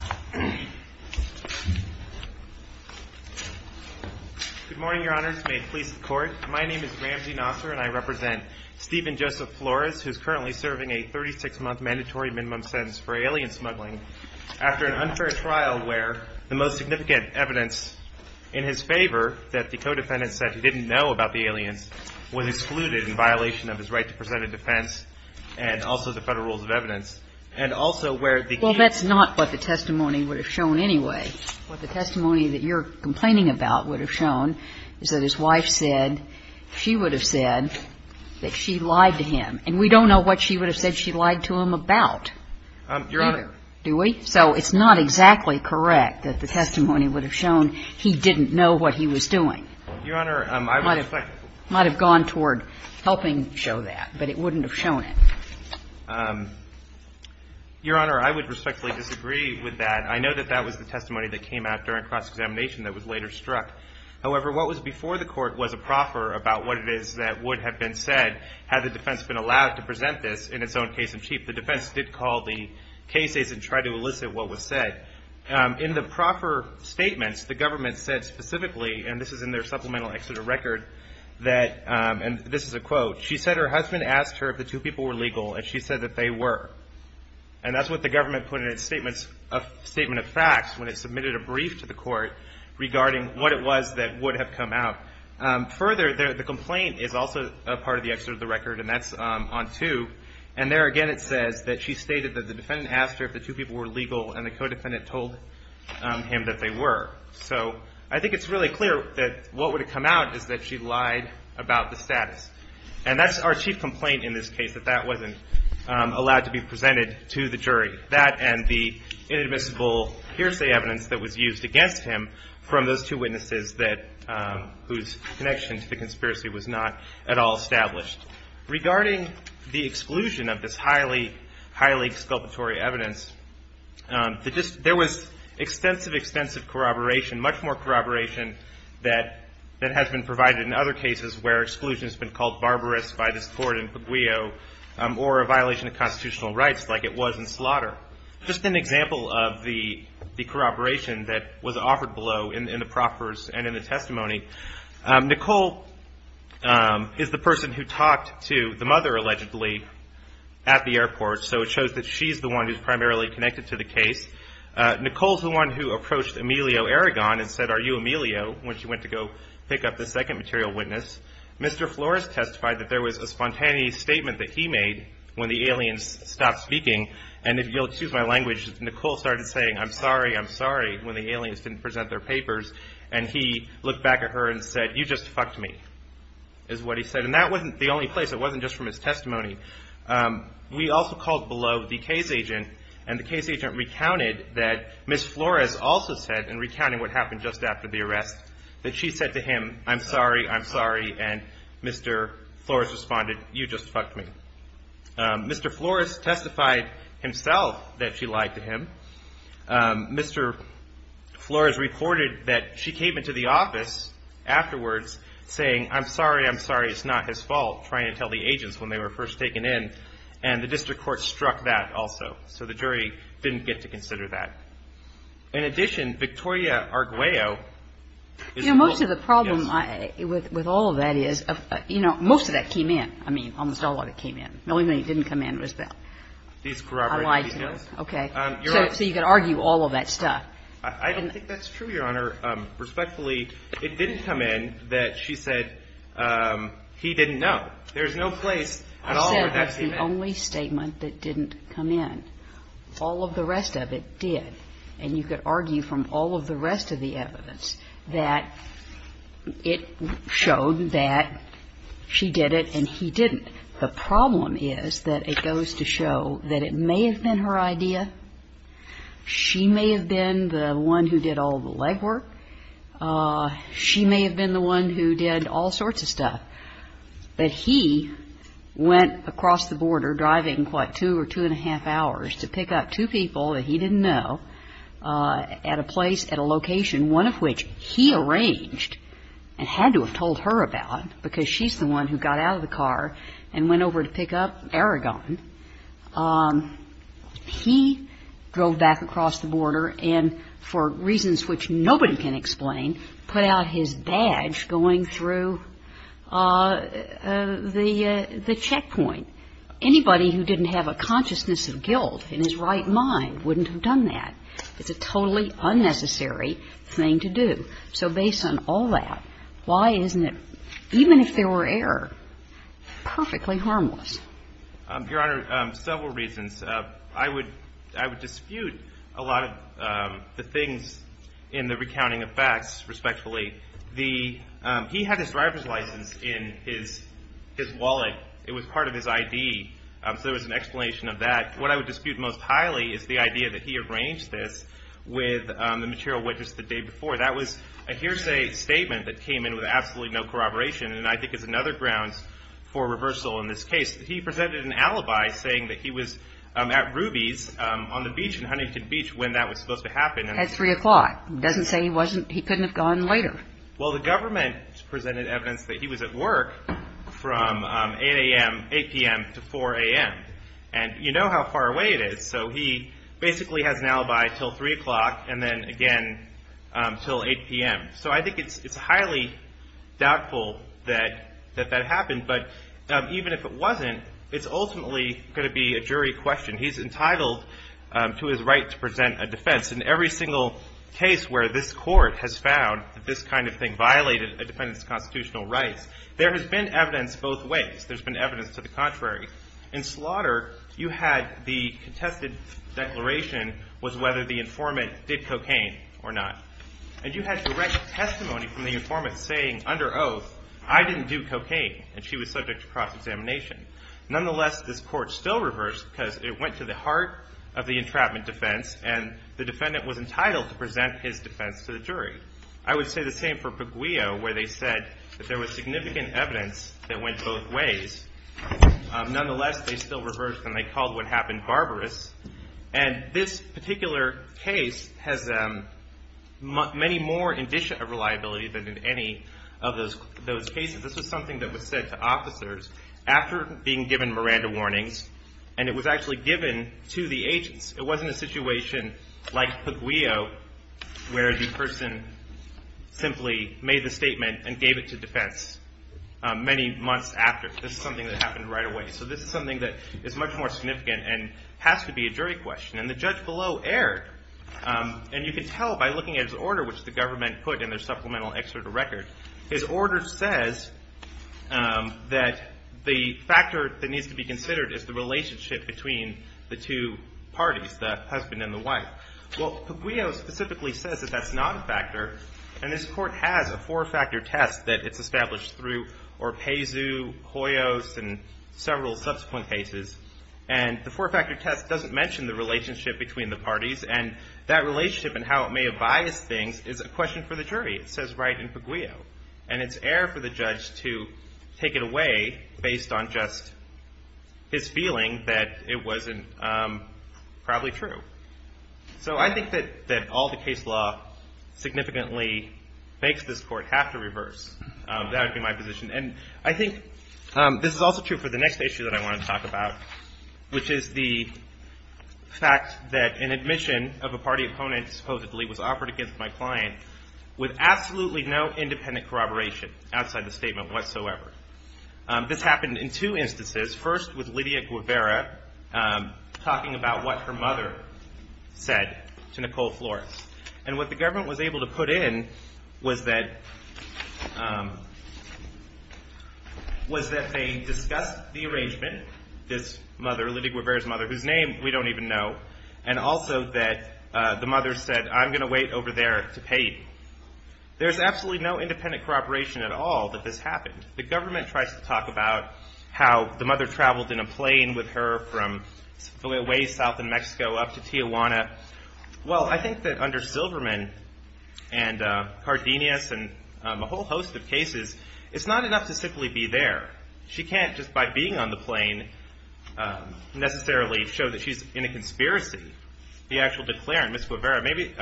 Good morning, Your Honors. May it please the Court, my name is Ramzi Nasser and I represent Stephen Joseph Flores who is currently serving a 36-month mandatory minimum sentence for alien smuggling after an unfair trial where the most significant evidence in his favor that the co-defendants said he didn't know about the aliens was excluded in violation of his right to present a defense and also the federal rules of evidence and also where it became Well, that's not what the testimony would have shown anyway. What the testimony that you're complaining about would have shown is that his wife said she would have said that she lied to him. And we don't know what she would have said she lied to him about either. Your Honor Do we? So it's not exactly correct that the testimony would have shown he didn't know what he was doing. Your Honor, I would expect It might have gone toward helping show that, but it wouldn't have shown it. Your Honor, I would respectfully disagree with that. I know that that was the testimony that came out during cross-examination that was later struck. However, what was before the Court was a proffer about what it is that would have been said had the defense been allowed to present this in its own case in chief. The defense did call the cases and try to elicit what was said. In the proffer statements, the government said specifically, and this is in their supplemental Exeter record that, and this is a quote, she said her husband asked her if the two people were legal, and she said that they were. And that's what the government put in its statement of facts when it submitted a brief to the Court regarding what it was that would have come out. Further, the complaint is also a part of the Exeter of the record, and that's on two. And there again it says that she stated that the defendant asked her if the two people were legal, and the co-defendant told him that they were. So I think it's really clear that what would have come out is that she lied about the status. And that's our chief complaint in this case, that that wasn't allowed to be presented to the jury. That and the inadmissible hearsay evidence that was used against him from those two witnesses whose connection to the conspiracy was not at all established. Regarding the exclusion of this highly, highly exculpatory evidence, there was extensive, extensive corroboration, much more corroboration that has been provided in other cases where exclusion has been called barbarous by this court in Puglio, or a violation of constitutional rights like it was in slaughter. Just an example of the corroboration that was offered below in the proffers and in the testimony, Nicole is the person who talked to the mother, allegedly, at the airport, so it shows that she's the one who's primarily connected to the case. Nicole's the one who approached Emilio Aragon and said, are you Emilio, when she went to go pick up the second material witness. Mr. Flores testified that there was a spontaneous statement that he made when the aliens stopped speaking. And if you'll excuse my language, Nicole started saying, I'm sorry, I'm sorry, when the aliens didn't present their papers. And he looked back at her and said, you just fucked me, is what he said. And that wasn't the only place, it wasn't just from his testimony. We also called below the case agent, and the case agent recounted that Ms. Flores also said in recounting what happened just after the arrest, that she said to him, I'm sorry, I'm sorry, and Mr. Flores responded, you just fucked me. Mr. Flores testified himself that she lied to him. Mr. Flores reported that she came into the office afterwards saying, I'm sorry, I'm sorry, it's not his fault, trying to tell the agents when they were first taken in. And the district court struck that also. So the jury didn't get to consider that. In addition, Victoria Arguello is the one. You know, most of the problem with all of that is, you know, most of that came in. I mean, almost all of it came in. The only thing that didn't come in was the, I lied to him. Okay. So you could argue all of that stuff. I don't think that's true, Your Honor. Respectfully, it didn't come in that she said he didn't know. There's no place at all where that came in. I said that's the only statement that didn't come in. All of the rest of it did. And you could argue from all of the rest of the evidence that it showed that she did it and he didn't. The problem is that it goes to show that it may have been her idea, she may have been the one who did all the legwork, she may have been the one who did all sorts of stuff, but he went across the border driving, what, two or two and a half hours to pick up two people that he didn't know at a place, at a location, one of which he arranged and had to have told her about, because she's the one who got out of the car and went over to pick up Aragon. He drove back across the border and for reasons which nobody can explain put out his badge going through the checkpoint. Anybody who didn't have a consciousness of guilt in his right mind wouldn't have done that. It's a totally unnecessary thing to do. So based on all that, why isn't it, even if there were error, perfectly harmless? Your Honor, several reasons. I would dispute a lot of the things in the recounting of facts, respectfully. He had his driver's license in his wallet. It was part of his ID, so there was an explanation of that. What I would dispute most highly is the idea that he arranged this with the material witness the day before. That was a hearsay statement that came in with absolutely no corroboration and I think is another grounds for reversal in this case. He presented an alibi saying that he was at Ruby's on the beach in Huntington Beach when that was supposed to happen. At 3 o'clock. Doesn't say he couldn't have gone later. Well, the government presented evidence that he was at work from 8 a.m. to 4 a.m. You know how far away it is, so he basically has an alibi until 3 o'clock and then again until 8 p.m. So I think it's highly doubtful that that happened, but even if it wasn't, it's ultimately going to be a jury question. He's entitled to his right to present a defense. In every single case where this court has found that this kind of thing violated a defendant's constitutional rights, there has been evidence both ways. There's been evidence to the contrary. In slaughter, you had the contested declaration was whether the informant did cocaine or not. And you had direct testimony from the informant saying under oath, I didn't do cocaine and she was subject to cross-examination. Nonetheless, this court still reversed because it went to the heart of the entrapment defense and the defendant was entitled to present his defense to the jury. I would say the same for Puguio where they said that there was significant evidence that went both ways. Nonetheless, they still reversed and they called what happened barbarous. And this particular case has many more indicia of reliability than in any of those cases. This was something that was said to officers after being given Miranda warnings and it was actually given to the agents. It wasn't a situation like Puguio where the person simply made the statement and gave it to defense many months after. This is something that happened right away. So this is something that is much more significant and has to be a jury question. And the judge below erred. And you can tell by looking at his order which the government put in their supplemental excerpt of record. His order says that the factor that needs to be considered is the relationship between the two parties, the husband and the wife. Well, Puguio specifically says that that's not a factor. And this court has a four-factor test that it's established through Orpezu, Hoyos, and several subsequent cases. And the relationship between the parties and that relationship and how it may have biased things is a question for the jury. It says right in Puguio. And it's air for the judge to take it away based on just his feeling that it wasn't probably true. So I think that all the case law significantly makes this court have to reverse. That would be my position. And I think this is also true for the next issue that I want to talk about, which is the fact that an admission of a party opponent, supposedly, was offered against my client with absolutely no independent corroboration outside the statement whatsoever. This happened in two instances, first with Lydia Guevara talking about what her mother said to Nicole Flores. And what the government was able to put in was that they discussed the arrangement, this mother, Lydia Guevara's mother, whose name we don't even know, and also that the mother said, I'm going to wait over there to pay. There's absolutely no independent corroboration at all that this happened. The government tries to talk about how the mother traveled in a plane with her from a ways south of Mexico up to Tijuana. Well, I think that under Silverman and Cardenas and a whole host of cases, it's not enough to simply be there. She can't just by being on the plane necessarily show that she's in a conspiracy. The actual declarant, Ms. Guevara, maybe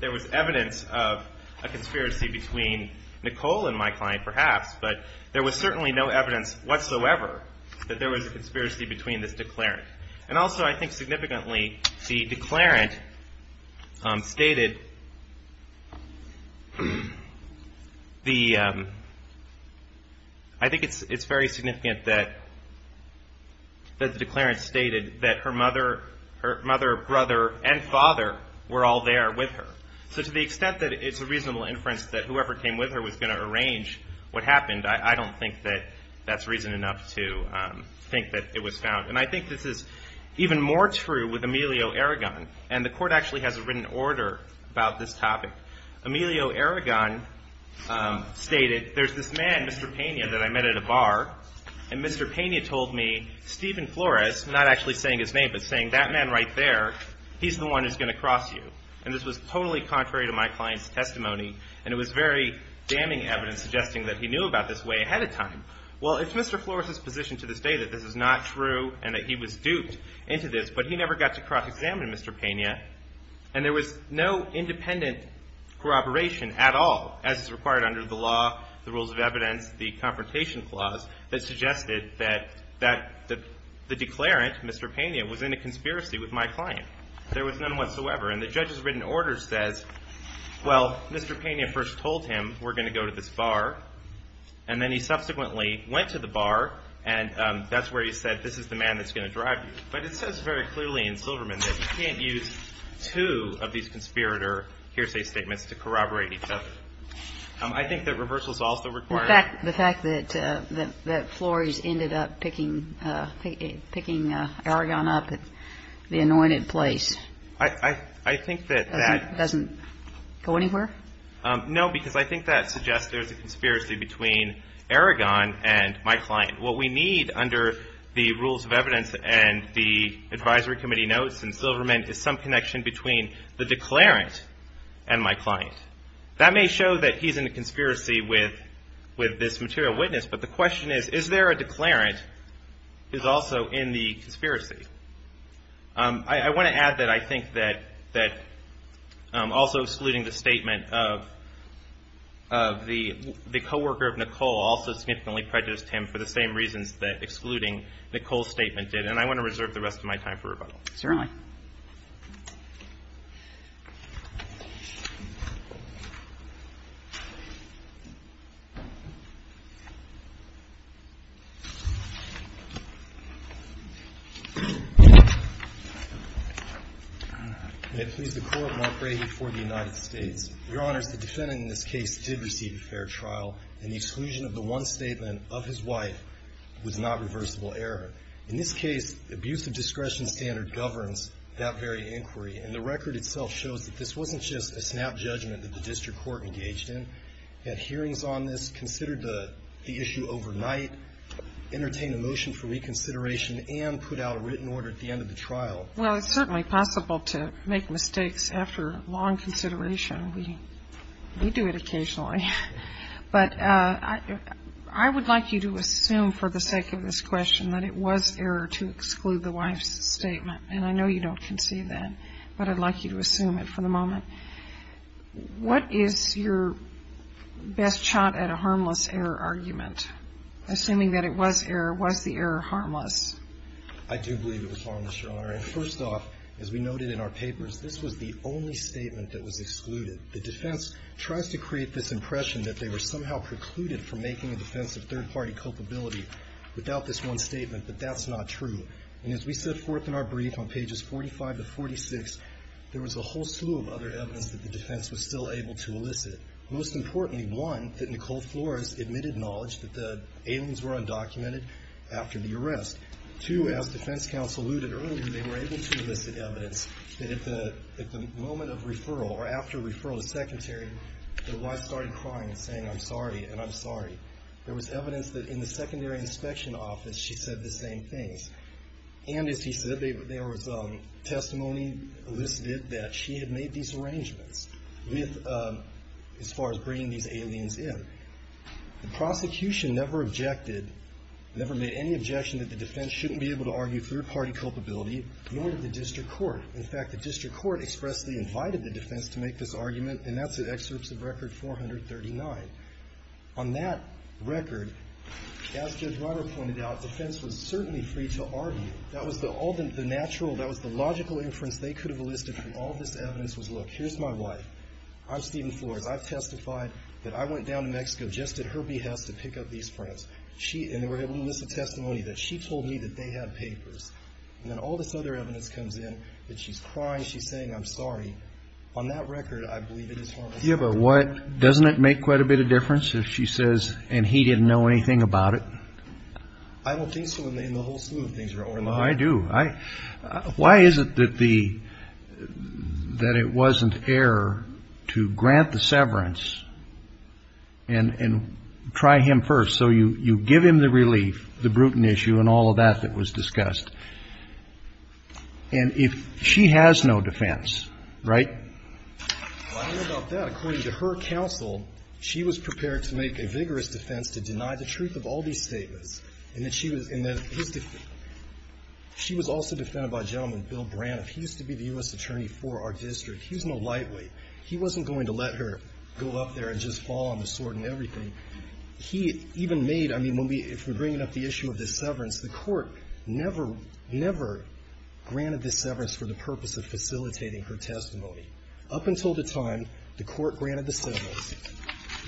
there was evidence of a conspiracy between Nicole and my client, perhaps, but there was certainly no evidence whatsoever that there was a conspiracy between this declarant. And also, I think significantly, the declarant stated the, I think it's very significant that the declarant stated that her mother, her mother, brother, and father were all there with her. So to the extent that it's a reasonable inference that whoever came with her was going to arrange what happened, I don't think that that's reason enough to think that it was found. And I think this is even more true with Emilio Aragon. And the court actually has a written order about this topic. Emilio Aragon stated, there's this man, Mr. Pena, that I met at a bar. And Mr. Pena told me, Stephen Flores, not actually saying his name, but saying that man right there, he's the one who's going to cross you. And this was totally contrary to my client's testimony. And it was very damning evidence suggesting that he knew about this way ahead of time. Well, it's Mr. Flores' position to this day that this is not true and that he was duped into this, but he never got to cross-examine Mr. Pena. And there was no independent corroboration at all, as is required under the law, the rules of evidence, the Confrontation Clause that suggested that the declarant, Mr. Pena, was in a conspiracy with my client. There was none whatsoever. And the judge's written order says, well, Mr. Pena first told him we're going to go to this bar. And then he subsequently went to the bar. And that's where he said, this is the man that's going to drive you. But it says very clearly in Silverman that you can't use two of these conspirator hearsay statements to corroborate each other. I think that reversal is also required. The fact that Flores ended up picking Aragon up at the anointed place, doesn't go anywhere? No, because I think that suggests there's a conspiracy between Aragon and my client. What we need under the rules of evidence and the advisory committee notes in Silverman is some connection between the declarant and my client. That may show that he's in a conspiracy with this material witness. But the question is, is there a declarant who's also in the conspiracy? I want to add that I think that also excluding the statement of the coworker of Nicole also significantly prejudiced him for the same reasons that excluding Nicole's statement did. And I want to reserve the rest of my time for rebuttal. Certainly. May it please the Court, Mark Rahe for the United States. Your Honors, the defendant in this case did receive a fair trial, and the exclusion of the one statement of his wife was not reversible error. In this case, abuse of discretion standard does not apply to the defendant. Well, it's certainly possible to make mistakes after long consideration. We do it occasionally. But I would like you to assume for the sake of this question that it was error to exclude the wife's statement. And I know you don't concede that, but I'd like you to assume it for the moment. What is your best shot at a harmless error argument? Assuming that it was error, was the error harmless? I do believe it was harmless, Your Honor. And first off, as we noted in our papers, this was the only statement that was excluded. The defense tries to create this impression that they were somehow precluded from making a defense of third-party culpability without this one statement, but that's not true. And as we set forth in our brief on pages 45 to 46, there was a whole slew of other evidence that the defense was still able to elicit. Most importantly, one, that Nicole Flores admitted knowledge that the aliens were undocumented after the arrest. Two, as defense counsel alluded earlier, they were able to elicit evidence that at the moment of referral, or after referral to the secretary, the wife started crying and saying, I'm sorry, and I'm sorry. There was evidence that in the secondary inspection office, she said the same things. And as he said, there was testimony elicited that she had made these arrangements with, as far as bringing these aliens in. The prosecution never objected, never made any objection that the defense shouldn't be able to argue third-party culpability, nor did the district court. In fact, the district court expressly invited the defense to make this argument, and that's in excerpts of record 439. On that record, as Judge Ryder pointed out, the defense was certainly free to argue. That was the natural, that was the logical inference they could have elicited from all this evidence was, look, here's my wife. I'm Stephen Flores. I've testified that I went down to Mexico just at her behest to pick up these prints. And they were able to elicit testimony that she told me that they had papers. And then all this other evidence comes in that she's crying, she's saying, I'm sorry. On that record, I believe it is harmless. Yeah, but what, doesn't it make quite a bit of difference if she says, and he didn't know anything about it? I don't think so in the whole slew of things. Oh, I do. I, why is it that the, that it wasn't error to grant the severance and, and try him first? So you, you give him the relief, the Bruton issue and all of that that was discussed. And if she has no defense, right? Well, I don't know about that. According to her counsel, she was prepared to make a vigorous defense to deny the truth of all these statements. And that she was, and that his, she was also defended by a gentleman, Bill Braniff. He used to be the U.S. attorney for our district. He's no lightweight. He wasn't going to let her go up there and just fall on the sword and everything. He even made, I mean, when we, if we're bringing up the issue of the severance, the Court never, never granted the severance for the purpose of facilitating her testimony. Up until the time the Court granted the severance,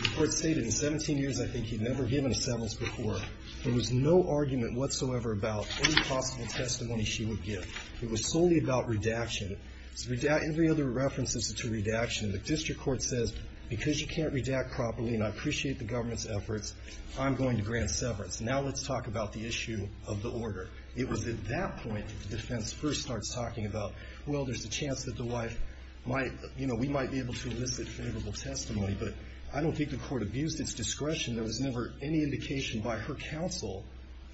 the Court stated in 17 years, I think, he'd never given a severance before. There was no argument whatsoever about any possible testimony she would give. It was solely about redaction. Every other reference is to redaction. The district court says, because you can't redact properly and I appreciate the government's efforts, I'm going to grant severance. Now let's talk about the issue of the order. It was at that point that the defense first starts talking about, well, there's a chance that the wife might, you know, we might be able to elicit favorable testimony, but I don't think the Court abused its discretion. There was never any indication by her counsel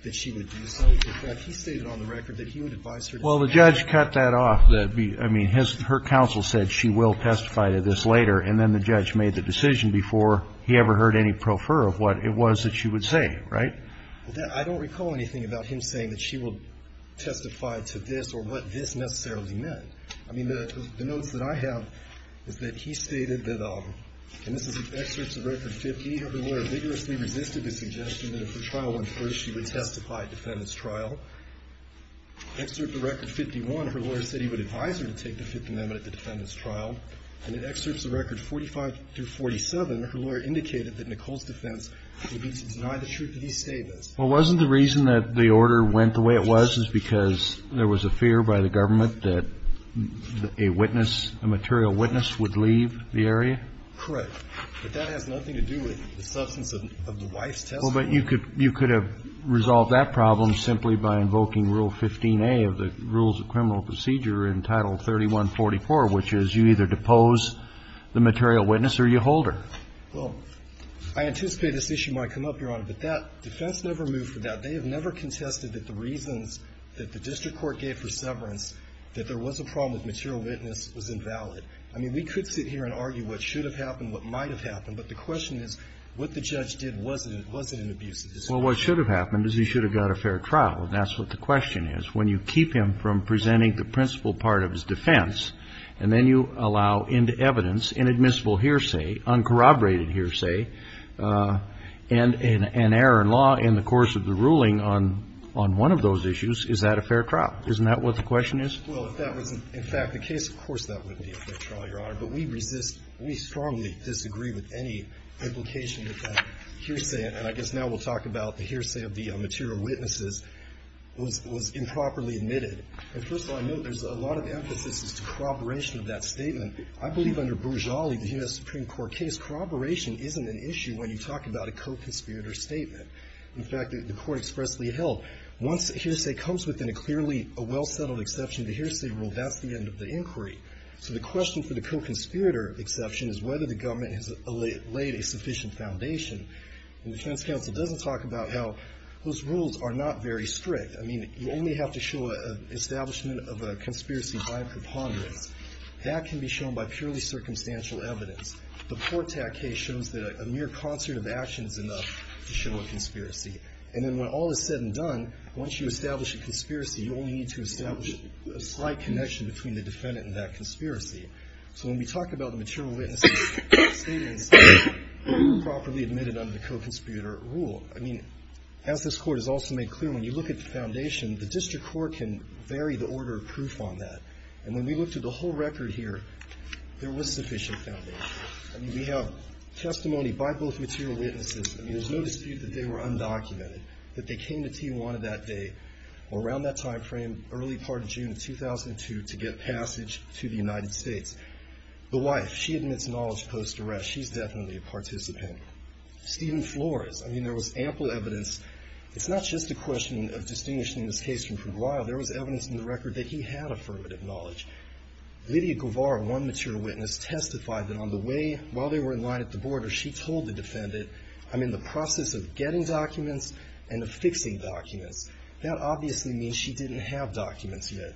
that she would do so. In fact, he stated on the record that he would advise her to do so. Well, the judge cut that off. I mean, her counsel said she will testify to this later, and then the judge made the decision before he ever heard any pro fer of what it was that she would say, right? I don't recall anything about him saying that she will testify to this or what this necessarily meant. I mean, the notes that I have is that he stated that, and this is excerpts of record 50, her lawyer vigorously resisted the suggestion that if the trial went through, she would testify at defendant's trial. Excerpt of record 51, her lawyer said he would advise her to take the Fifth Amendment at the defendant's trial. And in excerpts of record 45 through 47, her lawyer indicated that Nicole's And I'm not sure that that's what the case stated. Well, wasn't the reason that the order went the way it was is because there was a fear by the government that a witness, a material witness, would leave the area? Correct. But that has nothing to do with the substance of the wife's testimony. Well, but you could have resolved that problem simply by invoking Rule 15a of the defense never moved for that. They have never contested that the reasons that the district court gave for severance, that there was a problem with material witness was invalid. I mean, we could sit here and argue what should have happened, what might have happened, but the question is, what the judge did, was it an abuse of discretion? Well, what should have happened is he should have got a fair trial, and that's what the question is. When you keep him from presenting the principal part of his defense and then you allow into evidence inadmissible hearsay, uncorroborated hearsay, and error in law in the course of the ruling on one of those issues, is that a fair trial? Isn't that what the question is? Well, if that was in fact the case, of course that would be a fair trial, Your Honor. But we resist, we strongly disagree with any implication that hearsay, and I guess now we'll talk about the hearsay of the material witnesses, was improperly admitted. And first of all, I know there's a lot of emphasis as to corroboration of that statement. I believe under Bourjali, the U.S. Supreme Court case, corroboration isn't an issue when you talk about a co-conspirator statement. In fact, the Court expressly held, once hearsay comes within a clearly, a well-settled exception to hearsay rule, that's the end of the inquiry. So the question for the co-conspirator exception is whether the government has laid a sufficient foundation. And the defense counsel doesn't talk about how those rules are not very strict. I mean, you only have to show an establishment of a conspiracy by preponderance. That can be shown by purely circumstantial evidence. The Portak case shows that a mere concert of action is enough to show a conspiracy. And then when all is said and done, once you establish a conspiracy, you only need to establish a slight connection between the defendant and that conspiracy. So when we talk about the material witness statement, it's improperly admitted under the co-conspirator rule. I mean, as this Court has also made clear, when you look at the foundation, the district court can vary the order of proof on that. And when we looked at the whole record here, there was sufficient foundation. I mean, we have testimony by both material witnesses. I mean, there's no dispute that they were undocumented. That they came to Tijuana that day, or around that time frame, early part of June of 2002, to get passage to the United States. The wife, she admits knowledge post-arrest. She's definitely a participant. Stephen Flores, I mean, there was ample evidence. It's not just a question of distinguishing this case from for a while. There was evidence in the record that he had affirmative knowledge. Lydia Guevara, one material witness, testified that on the way, while they were in line at the border, she told the defendant, I'm in the process of getting documents and of fixing documents. That obviously means she didn't have documents yet.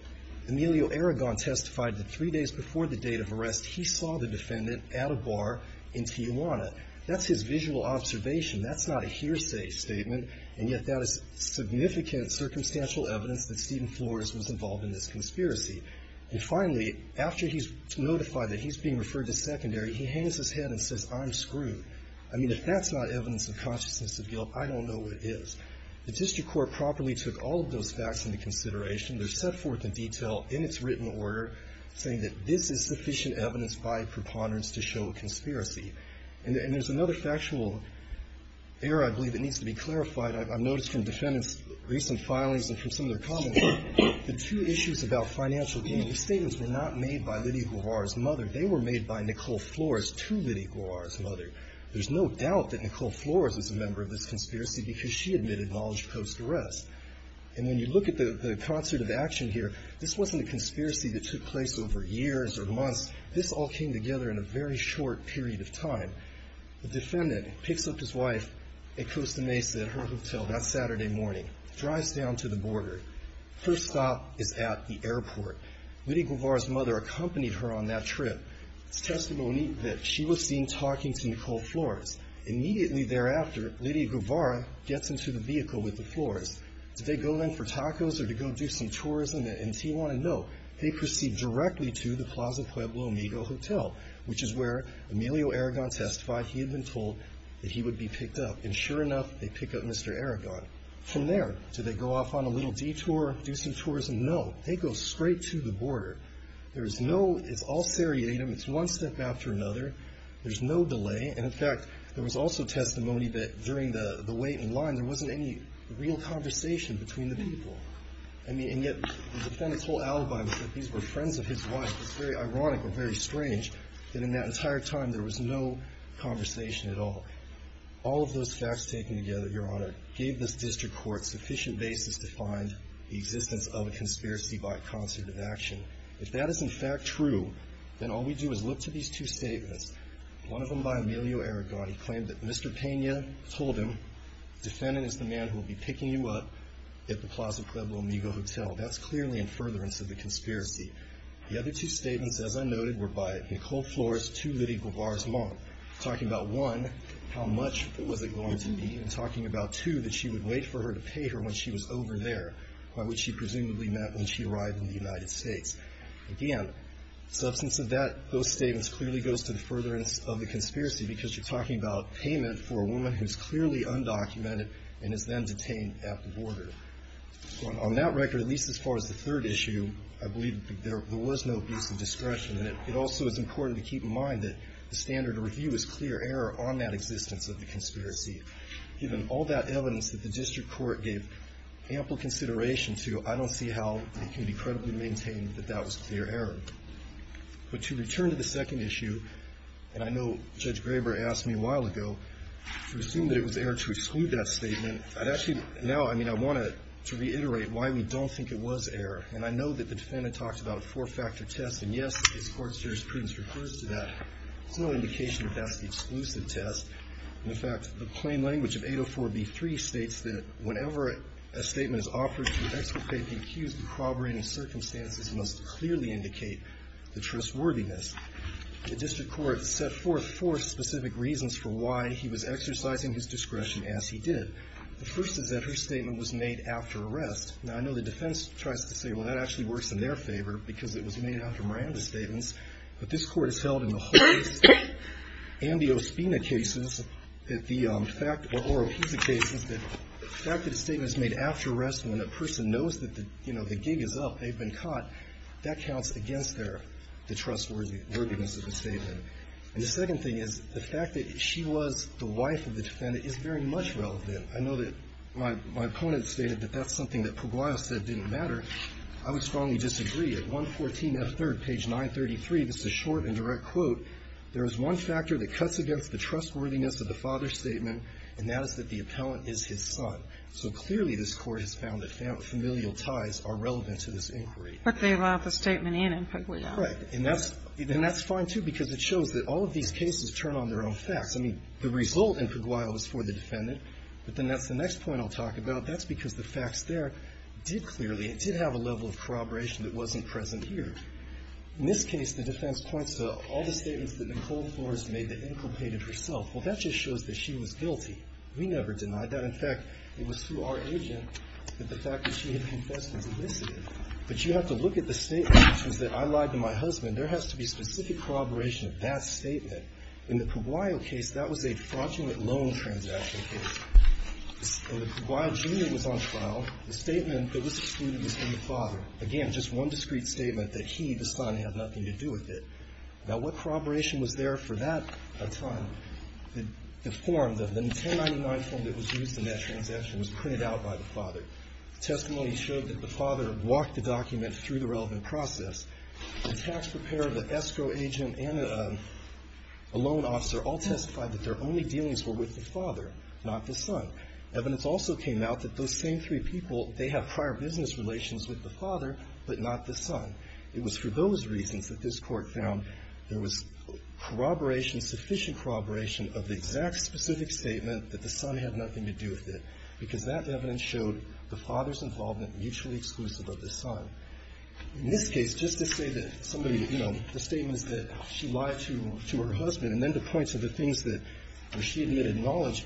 Emilio Aragon testified that three days before the date of arrest, he saw the defendant at a bar in Tijuana. That's his visual observation. That's not a hearsay statement. And yet, that is significant, circumstantial evidence that Stephen Flores was involved in this conspiracy. And finally, after he's notified that he's being referred to secondary, he hangs his head and says, I'm screwed. I mean, if that's not evidence of consciousness of guilt, I don't know what is. The district court properly took all of those facts into consideration. They're set forth in detail, in its written order, saying that this is sufficient evidence by preponderance to show a conspiracy. And there's another factual error, I believe, that needs to be clarified. I've noticed from defendants' recent filings and from some of their comments, the two issues about financial gain. These statements were not made by Liddy Guarara's mother. They were made by Nicole Flores to Liddy Guarara's mother. There's no doubt that Nicole Flores was a member of this conspiracy because she admitted knowledge post-arrest. And when you look at the concert of action here, this wasn't a conspiracy that took place over years or months. This all came together in a very short period of time. The defendant picks up his wife at Costa Mesa, at her hotel, that Saturday morning, drives down to the border. First stop is at the airport. Liddy Guarara's mother accompanied her on that trip. It's testimony that she was seen talking to Nicole Flores. Immediately thereafter, Liddy Guarara gets into the vehicle with the Flores. Did they go in for tacos or to go do some tourism in Tijuana? No, they proceed directly to the Plaza Pueblo Amigo Hotel, which is where Emilio Aragon testified he had been told that he would be picked up. And sure enough, they pick up Mr. Aragon. From there, do they go off on a little detour, do some tourism? No, they go straight to the border. It's all seriatim, it's one step after another, there's no delay. And in fact, there was also testimony that during the wait in line, there wasn't any real conversation between the people. And yet, the defendant's whole alibi was that these were friends of his wife. It's very ironic or very strange that in that entire time, there was no conversation at all. All of those facts taken together, Your Honor, gave this district court sufficient basis to find the existence of a conspiracy by concerted action. If that is in fact true, then all we do is look to these two statements. One of them by Emilio Aragon, he claimed that Mr. Pena told him, defendant is the man who will be picking you up at the Plaza Pueblo Amigo Hotel. That's clearly in furtherance of the conspiracy. The other two statements, as I noted, were by Nicole Flores to Liddy Guevara's mom. Talking about one, how much was it going to be, and talking about two, that she would wait for her to pay her when she was over there, by which she presumably meant when she arrived in the United States. Again, substance of that, those statements clearly goes to the furtherance of the conspiracy, because you're talking about payment for a woman who's clearly undocumented and is then detained at the border. On that record, at least as far as the third issue, I believe there was no abuse of discretion. And it also is important to keep in mind that the standard review is clear error on that existence of the conspiracy. Given all that evidence that the district court gave ample consideration to, I don't see how it can be credibly maintained that that was clear error. But to return to the second issue, and I know Judge Graber asked me a while ago, to assume that it was error to exclude that statement, I'd actually, now, I mean, I want to reiterate why we don't think it was error. And I know that the defendant talked about a four-factor test, and yes, this court's jurisprudence refers to that. It's no indication that that's the exclusive test. In fact, the plain language of 804B3 states that whenever a statement is offered to exculpate the accused in corroborating circumstances, it must clearly indicate the trustworthiness. The district court set forth four specific reasons for why he was exercising his discretion as he did. The first is that her statement was made after arrest. Now, I know the defense tries to say, well, that actually works in their favor, because it was made after Miranda's statements. But this court has held in the Horace and the Ospina cases that the fact, or Oropisa cases, that the fact that a statement is made after arrest when a person knows that the, you know, the gig is up, they've been caught, that counts against their, the trustworthiness of the statement. And the second thing is, the fact that she was the wife of the defendant is very much relevant. I know that my opponent stated that that's something that Pugliese said didn't matter. I would strongly disagree. At 114F3, page 933, this is a short and direct quote. There is one factor that cuts against the trustworthiness of the father's statement, and that is that the appellant is his son. So clearly, this court has found that familial ties are relevant to this inquiry. But they allowed the statement in in Pugliese. Correct. And that's fine, too, because it shows that all of these cases turn on their own facts. I mean, the result in Pugliese was for the defendant, but then that's the next point I'll talk about. That's because the facts there did clearly, it did have a level of corroboration that wasn't present here. In this case, the defense points to all the statements that Nicole Flores made that inculcated herself. Well, that just shows that she was guilty. We never denied that. In fact, it was through our agent that the fact that she had confessed was elicited. But you have to look at the statement, which was that I lied to my husband. There has to be specific corroboration of that statement. In the Pugliese case, that was a fraudulent loan transaction case. And when Pugliese Jr. was on trial, the statement that was excluded was from the father. Again, just one discreet statement that he, the son, had nothing to do with it. Now, what corroboration was there for that time? The form, the 1099 form that was used in that transaction was printed out by the father. Testimony showed that the father walked the document through the relevant process. The tax preparer, the escrow agent, and a loan officer all testified that their only dealings were with the father, not the son. Evidence also came out that those same three people, they have prior business relations with the father, but not the son. It was for those reasons that this court found there was corroboration, sufficient corroboration of the exact specific statement that the son had nothing to do with it. Because that evidence showed the father's involvement mutually exclusive of the son. In this case, just to say that somebody, you know, the statements that she lied to her husband, and then to point to the things that she admitted knowledge,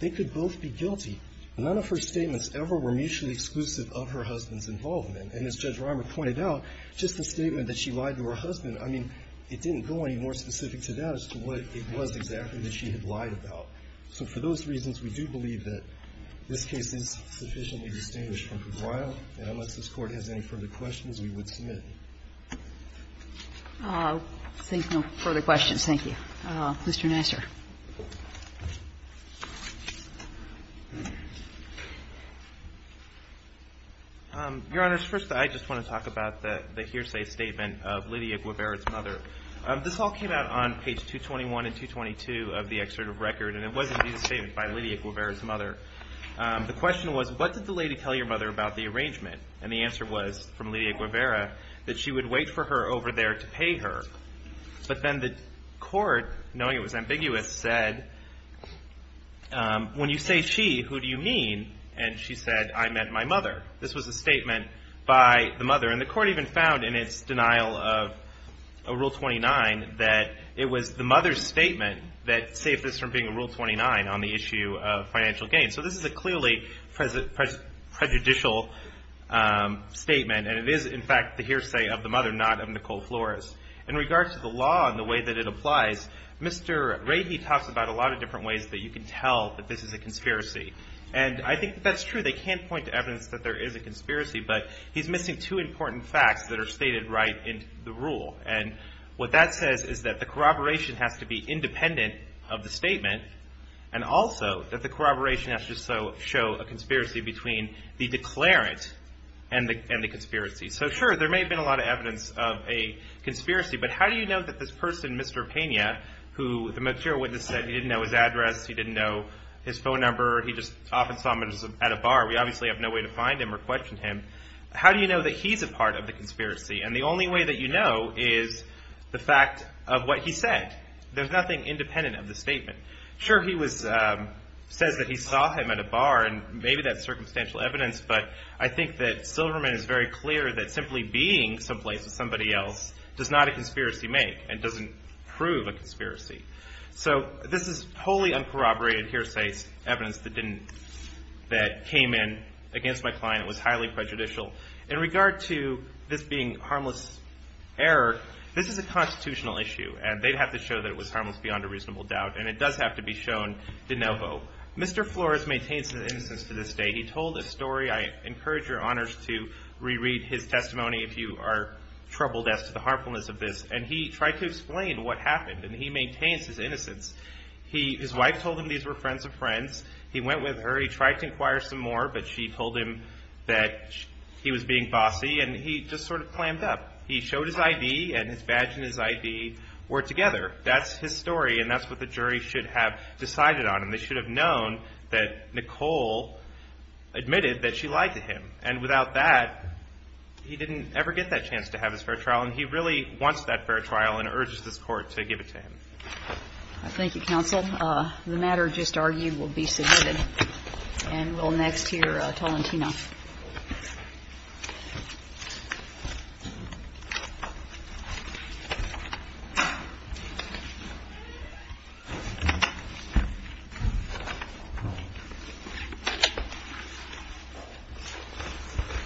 they could both be guilty. None of her statements ever were mutually exclusive of her husband's involvement. And as Judge Reimer pointed out, just the statement that she lied to her husband, I mean, it didn't go any more specific to that as to what it was exactly that she had lied about. So for those reasons, we do believe that this case is sufficiently distinguished from Cabrillo. And unless this Court has any further questions, we would submit. I'll take no further questions, thank you. Mr. Nassar. Your Honor, first, I just want to talk about the hearsay statement of Lydia Guevara's mother. This all came out on page 221 and 222 of the excerpt of record, and it's a very interesting statement. It was, indeed, a statement by Lydia Guevara's mother. The question was, what did the lady tell your mother about the arrangement? And the answer was, from Lydia Guevara, that she would wait for her over there to pay her. But then the Court, knowing it was ambiguous, said, when you say she, who do you mean? And she said, I meant my mother. This was a statement by the mother. And the Court even found, in its denial of Rule 29, that it was the mother's opinion that saved this from being a Rule 29 on the issue of financial gain. So this is a clearly prejudicial statement, and it is, in fact, the hearsay of the mother, not of Nicole Flores. In regards to the law and the way that it applies, Mr. Rahe talks about a lot of different ways that you can tell that this is a conspiracy. And I think that's true. They can't point to evidence that there is a conspiracy, but he's missing two important facts that are stated right in the rule. And what that says is that the corroboration has to be independent of the statement, and also that the corroboration has to show a conspiracy between the declarant and the conspiracy. So, sure, there may have been a lot of evidence of a conspiracy, but how do you know that this person, Mr. Pena, who the material witness said he didn't know his address, he didn't know his phone number, he just often saw him at a bar, we obviously have no way to find him or question him, how do you know that he's a part of the conspiracy? And the only way that you know is the fact of what he said. There's nothing independent of the statement. Sure, he says that he saw him at a bar, and maybe that's circumstantial evidence, but I think that Silverman is very clear that simply being someplace with somebody else does not a conspiracy make, and doesn't prove a conspiracy. So this is wholly uncorroborated hearsay evidence that came in against my client. It was highly prejudicial. In regard to this being harmless error, this is a constitutional issue, and they'd have to show that it was harmless beyond a reasonable doubt, and it does have to be shown de novo. Mr. Flores maintains his innocence to this day. He told a story, I encourage your honors to reread his testimony if you are troubled as to the harmfulness of this, and he tried to explain what happened, and he maintains his innocence. His wife told him these were friends of friends. He went with her, he tried to inquire some more, but she told him that he was being bossy, and he just sort of clammed up. He showed his ID, and his badge and his ID were together. That's his story, and that's what the jury should have decided on. They should have known that Nicole admitted that she lied to him, and without that, he didn't ever get that chance to have his fair trial, and he really wants that fair trial and urges this Court to give it to him. Thank you, counsel. The matter just argued will be submitted, and we'll next hear Tolentino.